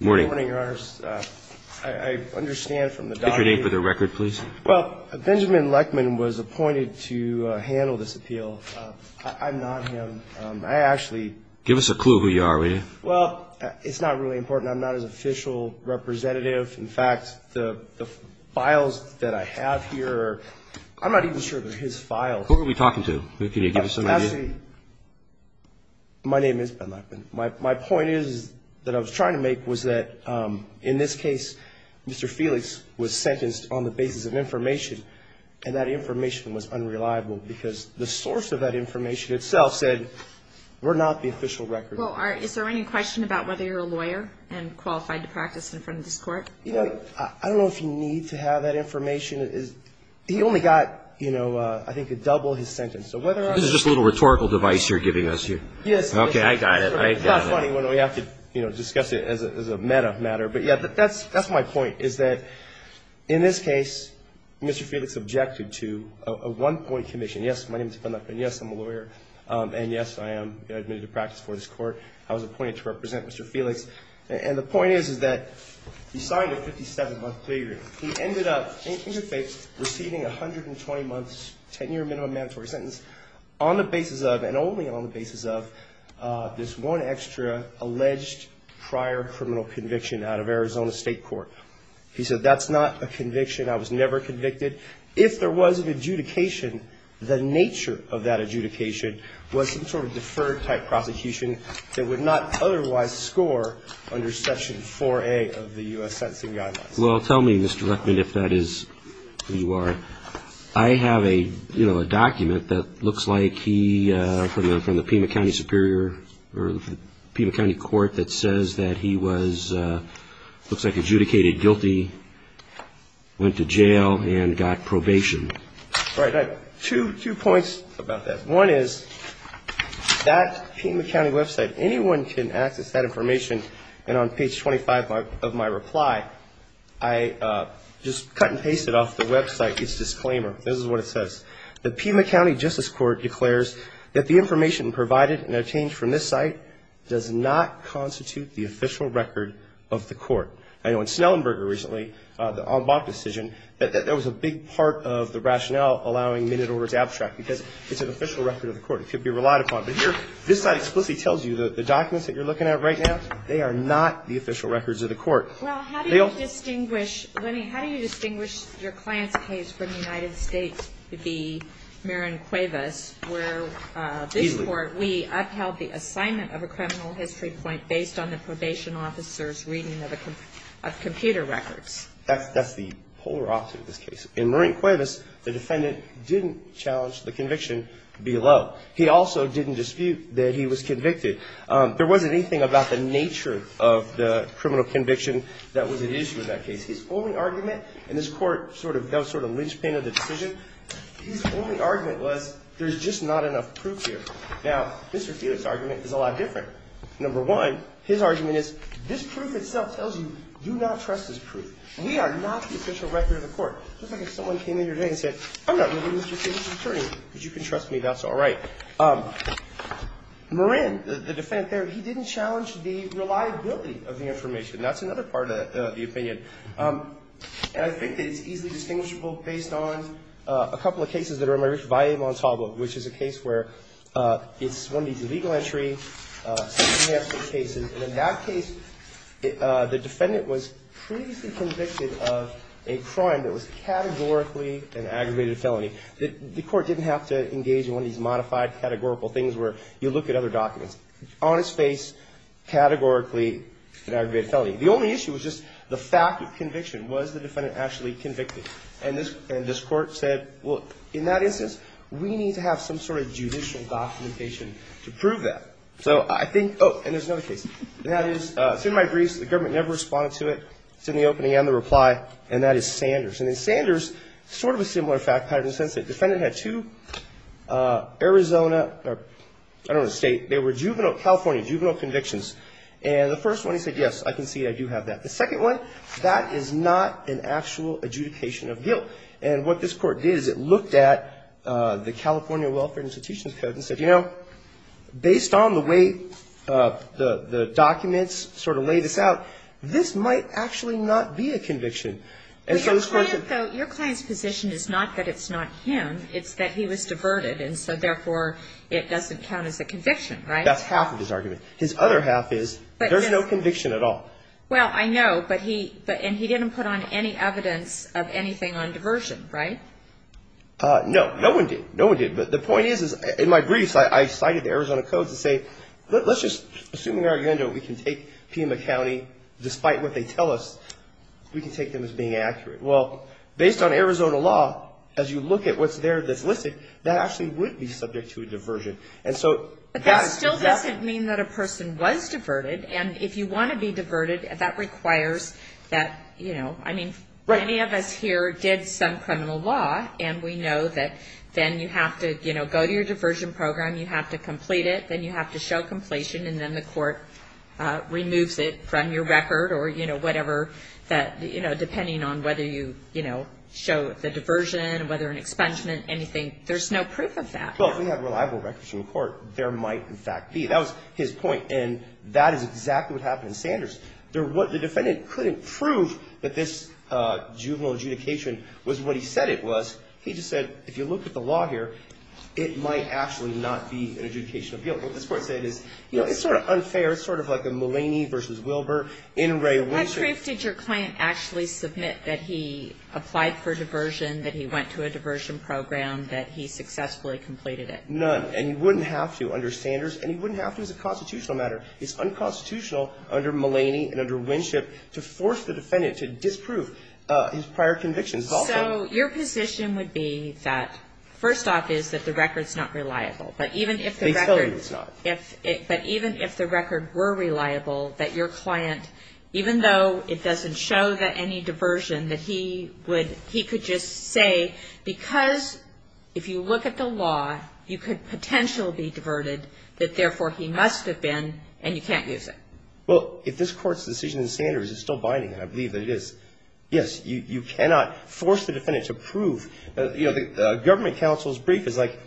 Good morning, your honors. I understand from the document Enter your name for the record, please. Well, Benjamin Lechman was appointed to handle this appeal. I'm not him. I actually Give us a clue who you are, will you? Well, it's not really important. I'm not his official representative. In fact, the files that I have here are I'm not even sure they're his files. Who are we talking to? Can you give us some idea? Actually, my name is Ben Lechman. My point is that I was trying to make was that in this case, Mr. Felix was Sentenced on the basis of information, and that information was unreliable because the source of that information Itself said we're not the official record. Well, is there any question about whether you're a lawyer and qualified to practice in front of this court? You know, I don't know if you need to have that information. He only got, you know, I think a double his sentence. This is just a little rhetorical device you're giving us here. Yes. Okay, I got it. I got it. It's not funny when we have to, you know, discuss it as a meta matter. But, yeah, that's my point, is that in this case, Mr. Felix objected to a one-point commission. Yes, my name is Ben Lechman. Yes, I'm a lawyer. And yes, I am admitted to practice for this court. I was appointed to represent Mr. Felix. And the point is, is that he signed a 57-month plea agreement. He ended up, in good faith, receiving 120 months, 10-year minimum mandatory sentence on the basis of, and only on the basis of, this one extra alleged prior criminal conviction out of Arizona State Court. He said that's not a conviction. I was never convicted. If there was an adjudication, the nature of that adjudication was some sort of deferred-type prosecution that would not otherwise score under Section 4A of the U.S. Sentencing Guidelines. Well, tell me, Mr. Lechman, if that is who you are. I have a, you know, a document that looks like he, from the Pima County Superior, or the Pima County Court that says that he was, looks like adjudicated guilty, went to jail, and got probation. Right. I have two points about that. One is, that Pima County website, anyone can access that information. And on page 25 of my reply, I just cut and pasted off the website its disclaimer. This is what it says. The Pima County Justice Court declares that the information provided and obtained from this site does not constitute the official record of the court. I know in Snellenberger recently, the en banc decision, that there was a big part of the rationale allowing minute order to abstract, because it's an official record of the court. It should be relied upon. But here, this site explicitly tells you that the documents that you're looking at right now, they are not the official records of the court. Well, how do you distinguish, Lenny, how do you distinguish your client's case from the United States, to be Marin Cuevas, where this court, we upheld the assignment of a criminal history point based on the probation officer's reading of computer records. That's the polar opposite of this case. In Marin Cuevas, the defendant didn't challenge the conviction below. He also didn't dispute that he was convicted. There wasn't anything about the nature of the criminal conviction that was at issue in that case. His only argument, and this court sort of does sort of linchpin of the decision, his only argument was there's just not enough proof here. Now, Mr. Felix's argument is a lot different. Number one, his argument is this proof itself tells you, do not trust this proof. We are not the official record of the court. It's like if someone came in here today and said, I'm not really Mr. Felix's attorney. But you can trust me. That's all right. Marin, the defendant there, he didn't challenge the reliability of the information. That's another part of the opinion. And I think that it's easily distinguishable based on a couple of cases that are in my reach, which is a case where it's one of these illegal entry cases. And in that case, the defendant was previously convicted of a crime that was categorically an aggravated felony. The court didn't have to engage in one of these modified categorical things where you look at other documents. On his face, categorically an aggravated felony. The only issue was just the fact of conviction. Was the defendant actually convicted? And this court said, well, in that instance, we need to have some sort of judicial documentation to prove that. So I think, oh, and there's another case. That is, it's in my briefs. The government never responded to it. It's in the opening and the reply. And that is Sanders. And then Sanders, sort of a similar fact pattern in the sense that the defendant had two Arizona, I don't want to state, they were juvenile, California juvenile convictions. And the first one, he said, yes, I can see it. I do have that. The second one, that is not an actual adjudication of guilt. And what this court did is it looked at the California Welfare Institution's code and said, you know, based on the way the documents sort of lay this out, this might actually not be a conviction. And so this court said. But your client's position is not that it's not him. It's that he was diverted and so, therefore, it doesn't count as a conviction, right? That's half of his argument. His other half is there's no conviction at all. Well, I know. And he didn't put on any evidence of anything on diversion, right? No. No one did. No one did. But the point is, in my briefs, I cited the Arizona code to say, let's just, assuming our agenda, we can take Pima County, despite what they tell us, we can take them as being accurate. Well, based on Arizona law, as you look at what's there that's listed, that actually would be subject to a diversion. But that still doesn't mean that a person was diverted. And if you want to be diverted, that requires that, you know, I mean, many of us here did some criminal law, and we know that then you have to, you know, go to your diversion program, you have to complete it, then you have to show completion, and then the court removes it from your record or, you know, whatever that, you know, depending on whether you, you know, show the diversion, whether an expungement, anything, there's no proof of that. Well, if we have reliable records from the court, there might, in fact, be. That was his point. And that is exactly what happened in Sanders. The defendant couldn't prove that this juvenile adjudication was what he said it was. He just said, if you look at the law here, it might actually not be an adjudication of guilt. What this court said is, you know, it's sort of unfair. It's sort of like a Mulaney versus Wilbur. In reality. How true did your client actually submit that he applied for diversion, that he went to a diversion program, that he successfully completed it? None. And he wouldn't have to under Sanders, and he wouldn't have to as a constitutional matter. It's unconstitutional under Mulaney and under Winship to force the defendant to disprove his prior convictions. So your position would be that, first off, is that the record's not reliable. But even if the record. They tell you it's not. But even if the record were reliable, that your client, even though it doesn't show that any diversion, that he would, he could just say, because if you look at the law, you could potentially be diverted, that therefore he must have been, and you can't use it. Well, if this Court's decision in Sanders is still binding, and I believe that it is, yes, you cannot force the defendant to prove. You know, the government counsel's brief is like,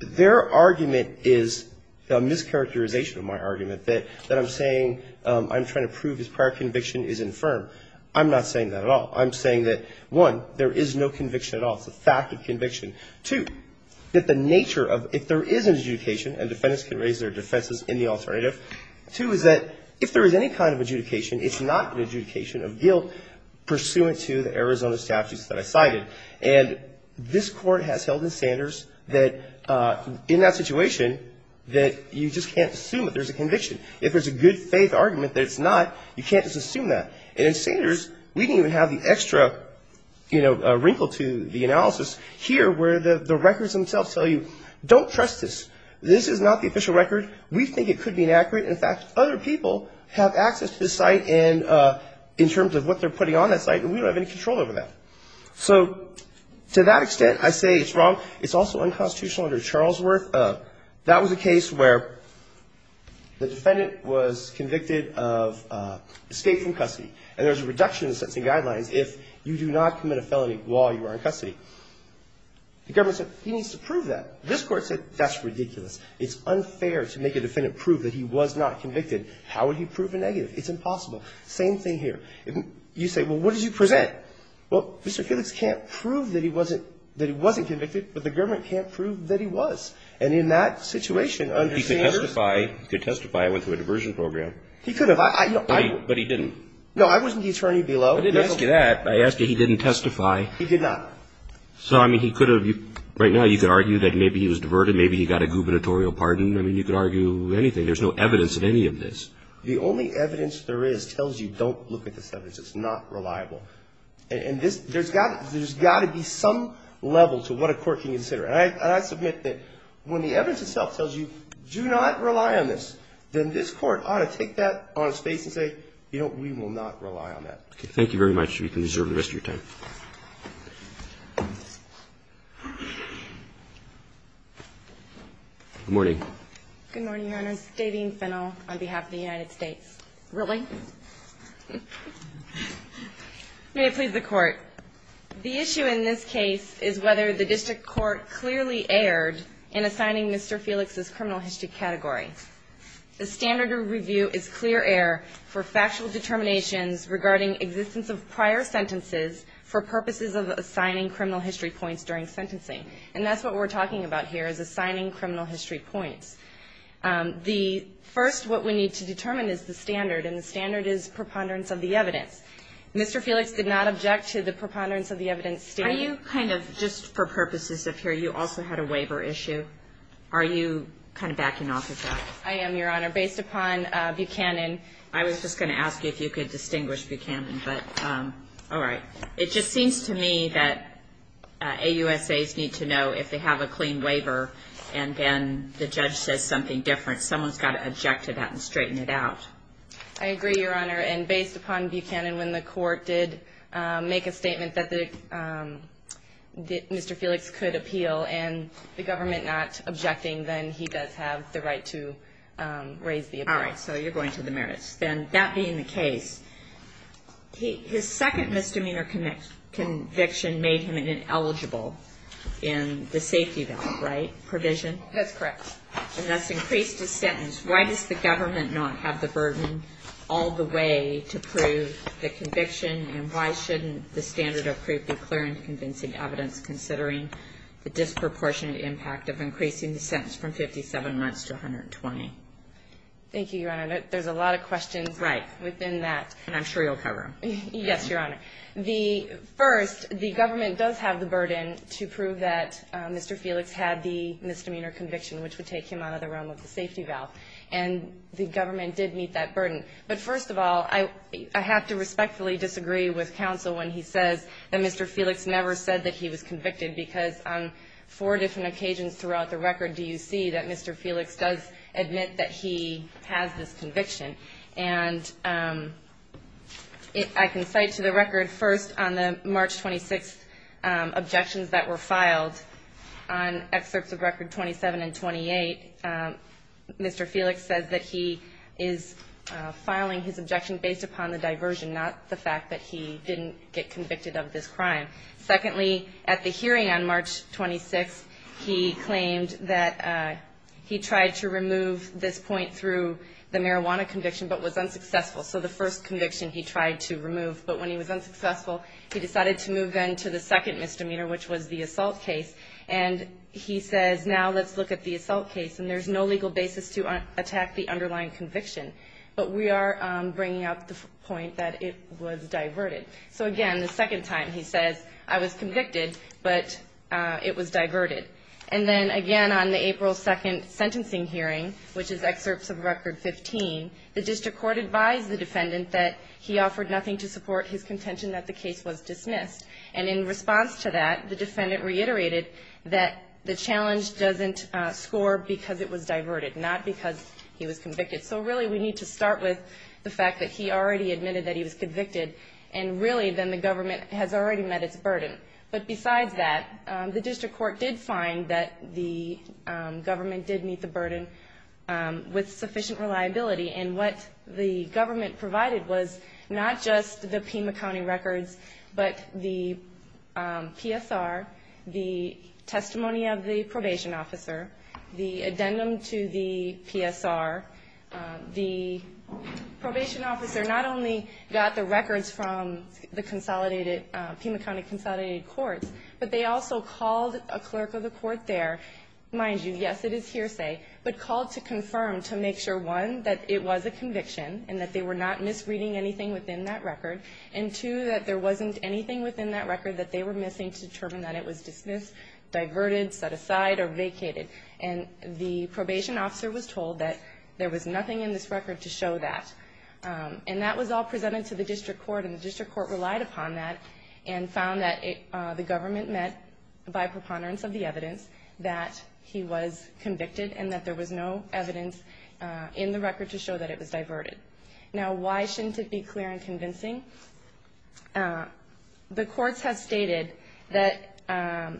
their argument is a mischaracterization of my argument, that I'm saying I'm trying to prove his prior conviction is infirm. I'm not saying that at all. I'm saying that, one, there is no conviction at all. It's a fact of conviction. Two, that the nature of, if there is an adjudication, and defendants can raise their defenses in the alternative, two is that if there is any kind of adjudication, it's not an adjudication of guilt pursuant to the Arizona statutes that I cited. And this Court has held in Sanders that, in that situation, that you just can't assume that there's a conviction. If there's a good faith argument that it's not, you can't just assume that. And in Sanders, we didn't even have the extra, you know, wrinkle to the analysis here, where the records themselves tell you, don't trust this. This is not the official record. We think it could be inaccurate. In fact, other people have access to this site in terms of what they're putting on that site, and we don't have any control over that. So to that extent, I say it's wrong. It's also unconstitutional under Charlesworth. That was a case where the defendant was convicted of escape from custody, and there's a reduction in sentencing guidelines if you do not commit a felony while you are in custody. The government said, he needs to prove that. This Court said, that's ridiculous. It's unfair to make a defendant prove that he was not convicted. How would he prove a negative? It's impossible. Same thing here. You say, well, what did you present? Well, Mr. Felix can't prove that he wasn't convicted, but the government can't prove that he was. And in that situation, under Sanders… He could testify. He could testify. I went to a diversion program. He could have. But he didn't. No, I wasn't the attorney below. I didn't ask you that. I asked you, he didn't testify. He did not. So, I mean, he could have. Right now, you could argue that maybe he was diverted. Maybe he got a gubernatorial pardon. I mean, you could argue anything. There's no evidence in any of this. The only evidence there is tells you, don't look at this evidence. It's not reliable. And there's got to be some level to what a court can consider. And I submit that when the evidence itself tells you, do not rely on this, then this court ought to take that on its face and say, you know, we will not rely on that. Thank you very much. You can reserve the rest of your time. Good morning. Good morning, Your Honor. Dadeen Fennell on behalf of the United States. Really? May it please the Court. The issue in this case is whether the district court clearly erred in assigning Mr. Felix's criminal history category. The standard of review is clear error for factual determinations regarding existence of prior sentences for purposes of assigning criminal history points during sentencing. And that's what we're talking about here is assigning criminal history points. The first what we need to determine is the standard. And the standard is preponderance of the evidence. Mr. Felix did not object to the preponderance of the evidence. Are you kind of, just for purposes of here, you also had a waiver issue. Are you kind of backing off of that? I am, Your Honor. Based upon Buchanan. I was just going to ask you if you could distinguish Buchanan. But all right. It just seems to me that AUSAs need to know if they have a clean waiver, and then the judge says something different. Someone's got to object to that and straighten it out. I agree, Your Honor. And based upon Buchanan, when the court did make a statement that Mr. Felix could appeal and the government not objecting, then he does have the right to raise the appeal. All right. So you're going to the merits. Then that being the case, his second misdemeanor conviction made him eligible in the safety valve, right? Provision? That's correct. And thus increased his sentence. Why does the government not have the burden all the way to prove the conviction and why shouldn't the standard of proof be clear and convincing evidence considering the disproportionate impact of increasing the sentence from 57 months to 120? Thank you, Your Honor. There's a lot of questions within that. Right. And I'm sure you'll cover them. Yes, Your Honor. The first, the government does have the burden to prove that Mr. Felix had the misdemeanor conviction, which would take him out of the realm of the safety valve. And the government did meet that burden. But first of all, I have to respectfully disagree with counsel when he says that Mr. Felix never said that he was convicted, because on four different occasions throughout the record do you see that Mr. Felix does admit that he has this conviction. And I can cite to the record first on the March 26th objections that were filed on excerpts of record 27 and 28, Mr. Felix says that he is filing his objection based upon the diversion, not the fact that he didn't get convicted of this crime. Secondly, at the hearing on March 26th, he claimed that he tried to remove this point through the marijuana conviction, but was unsuccessful. So the first conviction he tried to remove. But when he was unsuccessful, he decided to move then to the second misdemeanor, which was the assault case. And he says, now let's look at the assault case. And there's no legal basis to attack the underlying conviction. But we are bringing up the point that it was diverted. So, again, the second time he says, I was convicted, but it was diverted. And then, again, on the April 2nd sentencing hearing, which is excerpts of record 15, the district court advised the defendant that he offered nothing to support his contention that the case was dismissed. And in response to that, the defendant reiterated that the challenge doesn't score because it was diverted, not because he was convicted. So really we need to start with the fact that he already admitted that he was convicted and really then the government has already met its burden. But besides that, the district court did find that the government did meet the burden with sufficient reliability. And what the government provided was not just the Pima County records, but the PSR, the testimony of the probation officer, the addendum to the PSR. The probation officer not only got the records from the consolidated, Pima County consolidated courts, but they also called a clerk of the court there, mind you, yes, it is hearsay, but called to confirm to make sure, one, that it was a conviction and that they were not misreading anything within that record, and two, that there wasn't anything within that record that they were missing to determine that it was dismissed, diverted, set aside, or vacated. And the probation officer was told that there was nothing in this record to show that. And that was all presented to the district court, and the district court relied upon that and found that the government met by preponderance of the evidence that he was convicted and that there was no evidence in the record to show that it was diverted. Now, why shouldn't it be clear and convincing? The courts have stated that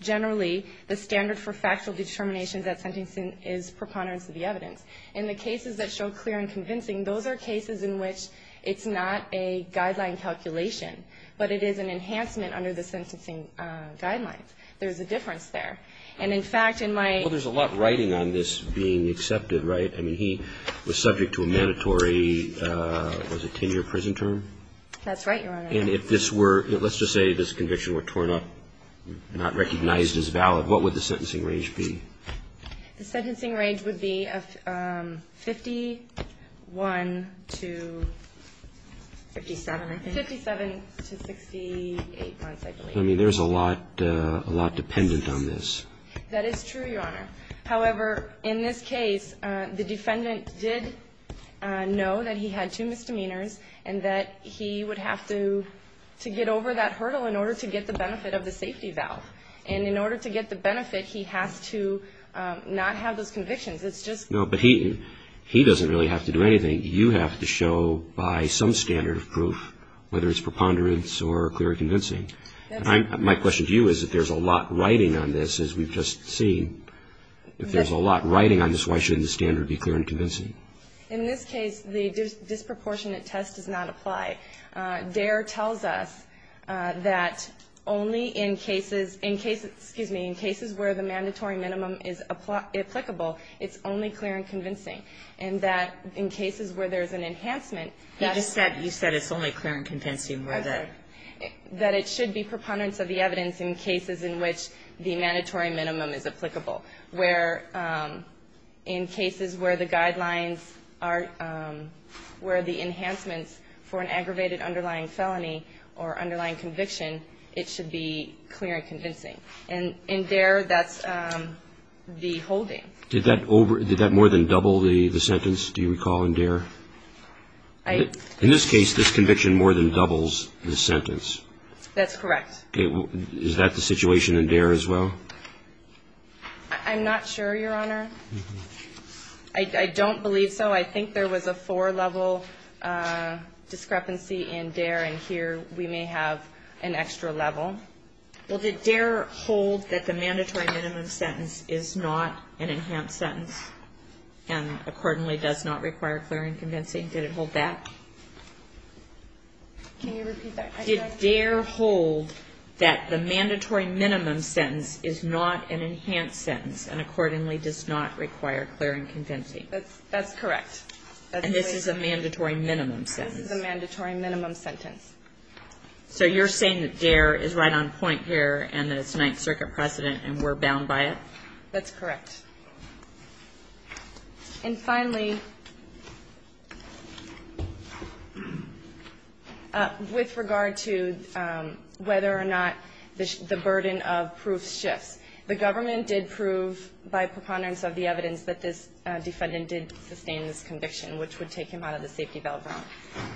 generally the standard for factual determination that sentencing is preponderance of the evidence. In the cases that show clear and convincing, those are cases in which it's not a guideline calculation, but it is an enhancement under the sentencing guidelines. There is a difference there. And, in fact, in my ---- Well, there's a lot of writing on this being accepted, right? I mean, he was subject to a mandatory, was it 10-year prison term? That's right, Your Honor. And if this were, let's just say this conviction were torn up, not recognized as valid, what would the sentencing range be? The sentencing range would be 51 to 57, I think. 57 to 68 months, I believe. I mean, there's a lot dependent on this. That is true, Your Honor. However, in this case, the defendant did know that he had two misdemeanors and that he would have to get over that hurdle in order to get the benefit of the safety valve. And in order to get the benefit, he has to not have those convictions. It's just ---- No, but he doesn't really have to do anything. You have to show by some standard of proof, whether it's preponderance or clear and convincing. My question to you is if there's a lot writing on this, as we've just seen, if there's a lot writing on this, why shouldn't the standard be clear and convincing? In this case, the disproportionate test does not apply. Dare tells us that only in cases ---- in cases, excuse me, in cases where the mandatory minimum is applicable, it's only clear and convincing, and that in cases where there's an enhancement, that's ---- You just said it's only clear and convincing where the ---- That it should be preponderance of the evidence in cases in which the mandatory minimum is applicable, where in cases where the guidelines are ---- where the enhancements for an aggravated underlying felony or underlying conviction, it should be clear and convincing. And in Dare, that's the holding. Did that more than double the sentence, do you recall, in Dare? I ---- In this case, this conviction more than doubles the sentence. That's correct. Okay. Is that the situation in Dare as well? I'm not sure, Your Honor. I don't believe so. I think there was a four-level discrepancy in Dare, and here we may have an extra level. Well, did Dare hold that the mandatory minimum sentence is not an enhanced sentence and accordingly does not require clear and convincing? Did it hold that? Can you repeat that? Did Dare hold that the mandatory minimum sentence is not an enhanced sentence and accordingly does not require clear and convincing? That's correct. And this is a mandatory minimum sentence? This is a mandatory minimum sentence. So you're saying that Dare is right on point here and that it's Ninth Circuit precedent and we're bound by it? That's correct. And finally, with regard to whether or not the burden of proof shifts, the government did prove by preponderance of the evidence that this defendant did sustain this conviction, which would take him out of the safety belt realm.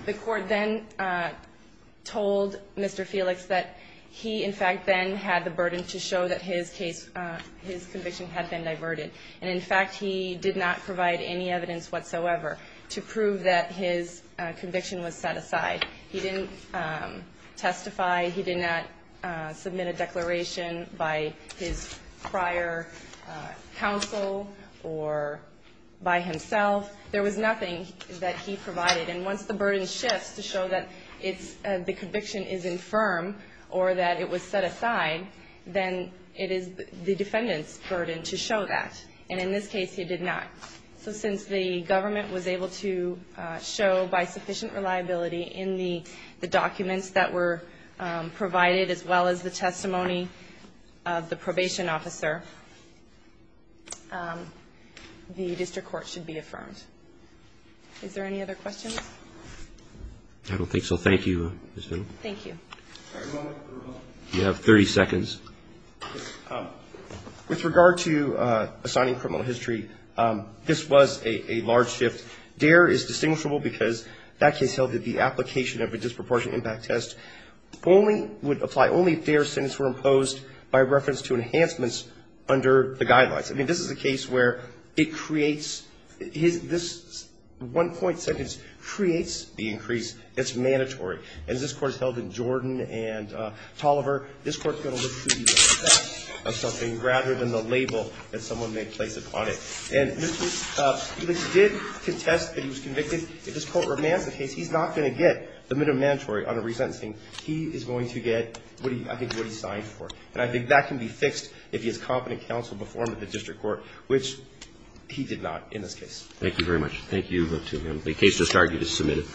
The Court then told Mr. Felix that he, in fact, then had the burden to show that his conviction had been diverted. And, in fact, he did not provide any evidence whatsoever to prove that his conviction was set aside. He didn't testify. He did not submit a declaration by his prior counsel or by himself. There was nothing that he provided. And once the burden shifts to show that the conviction is infirm or that it was set aside, then it is the defendant's burden to show that. And in this case, he did not. So since the government was able to show by sufficient reliability in the documents that were provided as well as the testimony of the probation officer, the district court should be affirmed. Is there any other questions? I don't think so. Thank you, Ms. Finley. Thank you. You have 30 seconds. With regard to assigning criminal history, this was a large shift. Dare is distinguishable because that case held that the application of a disproportionate impact test only would apply only if dare sentences were imposed by reference to enhancements under the guidelines. I mean, this is a case where it creates his one-point sentence creates the increase. It's mandatory. As this Court has held in Jordan and Toliver, this Court is going to look for the effect of something rather than the label that someone may place upon it. And this did contest that he was convicted. If this Court remands the case, he's not going to get the minimum mandatory on a resentencing. He is going to get, I think, what he signed for. And I think that can be fixed if he is competent counsel before him at the district court, which he did not in this case. Thank you very much. Thank you. The case is submitted.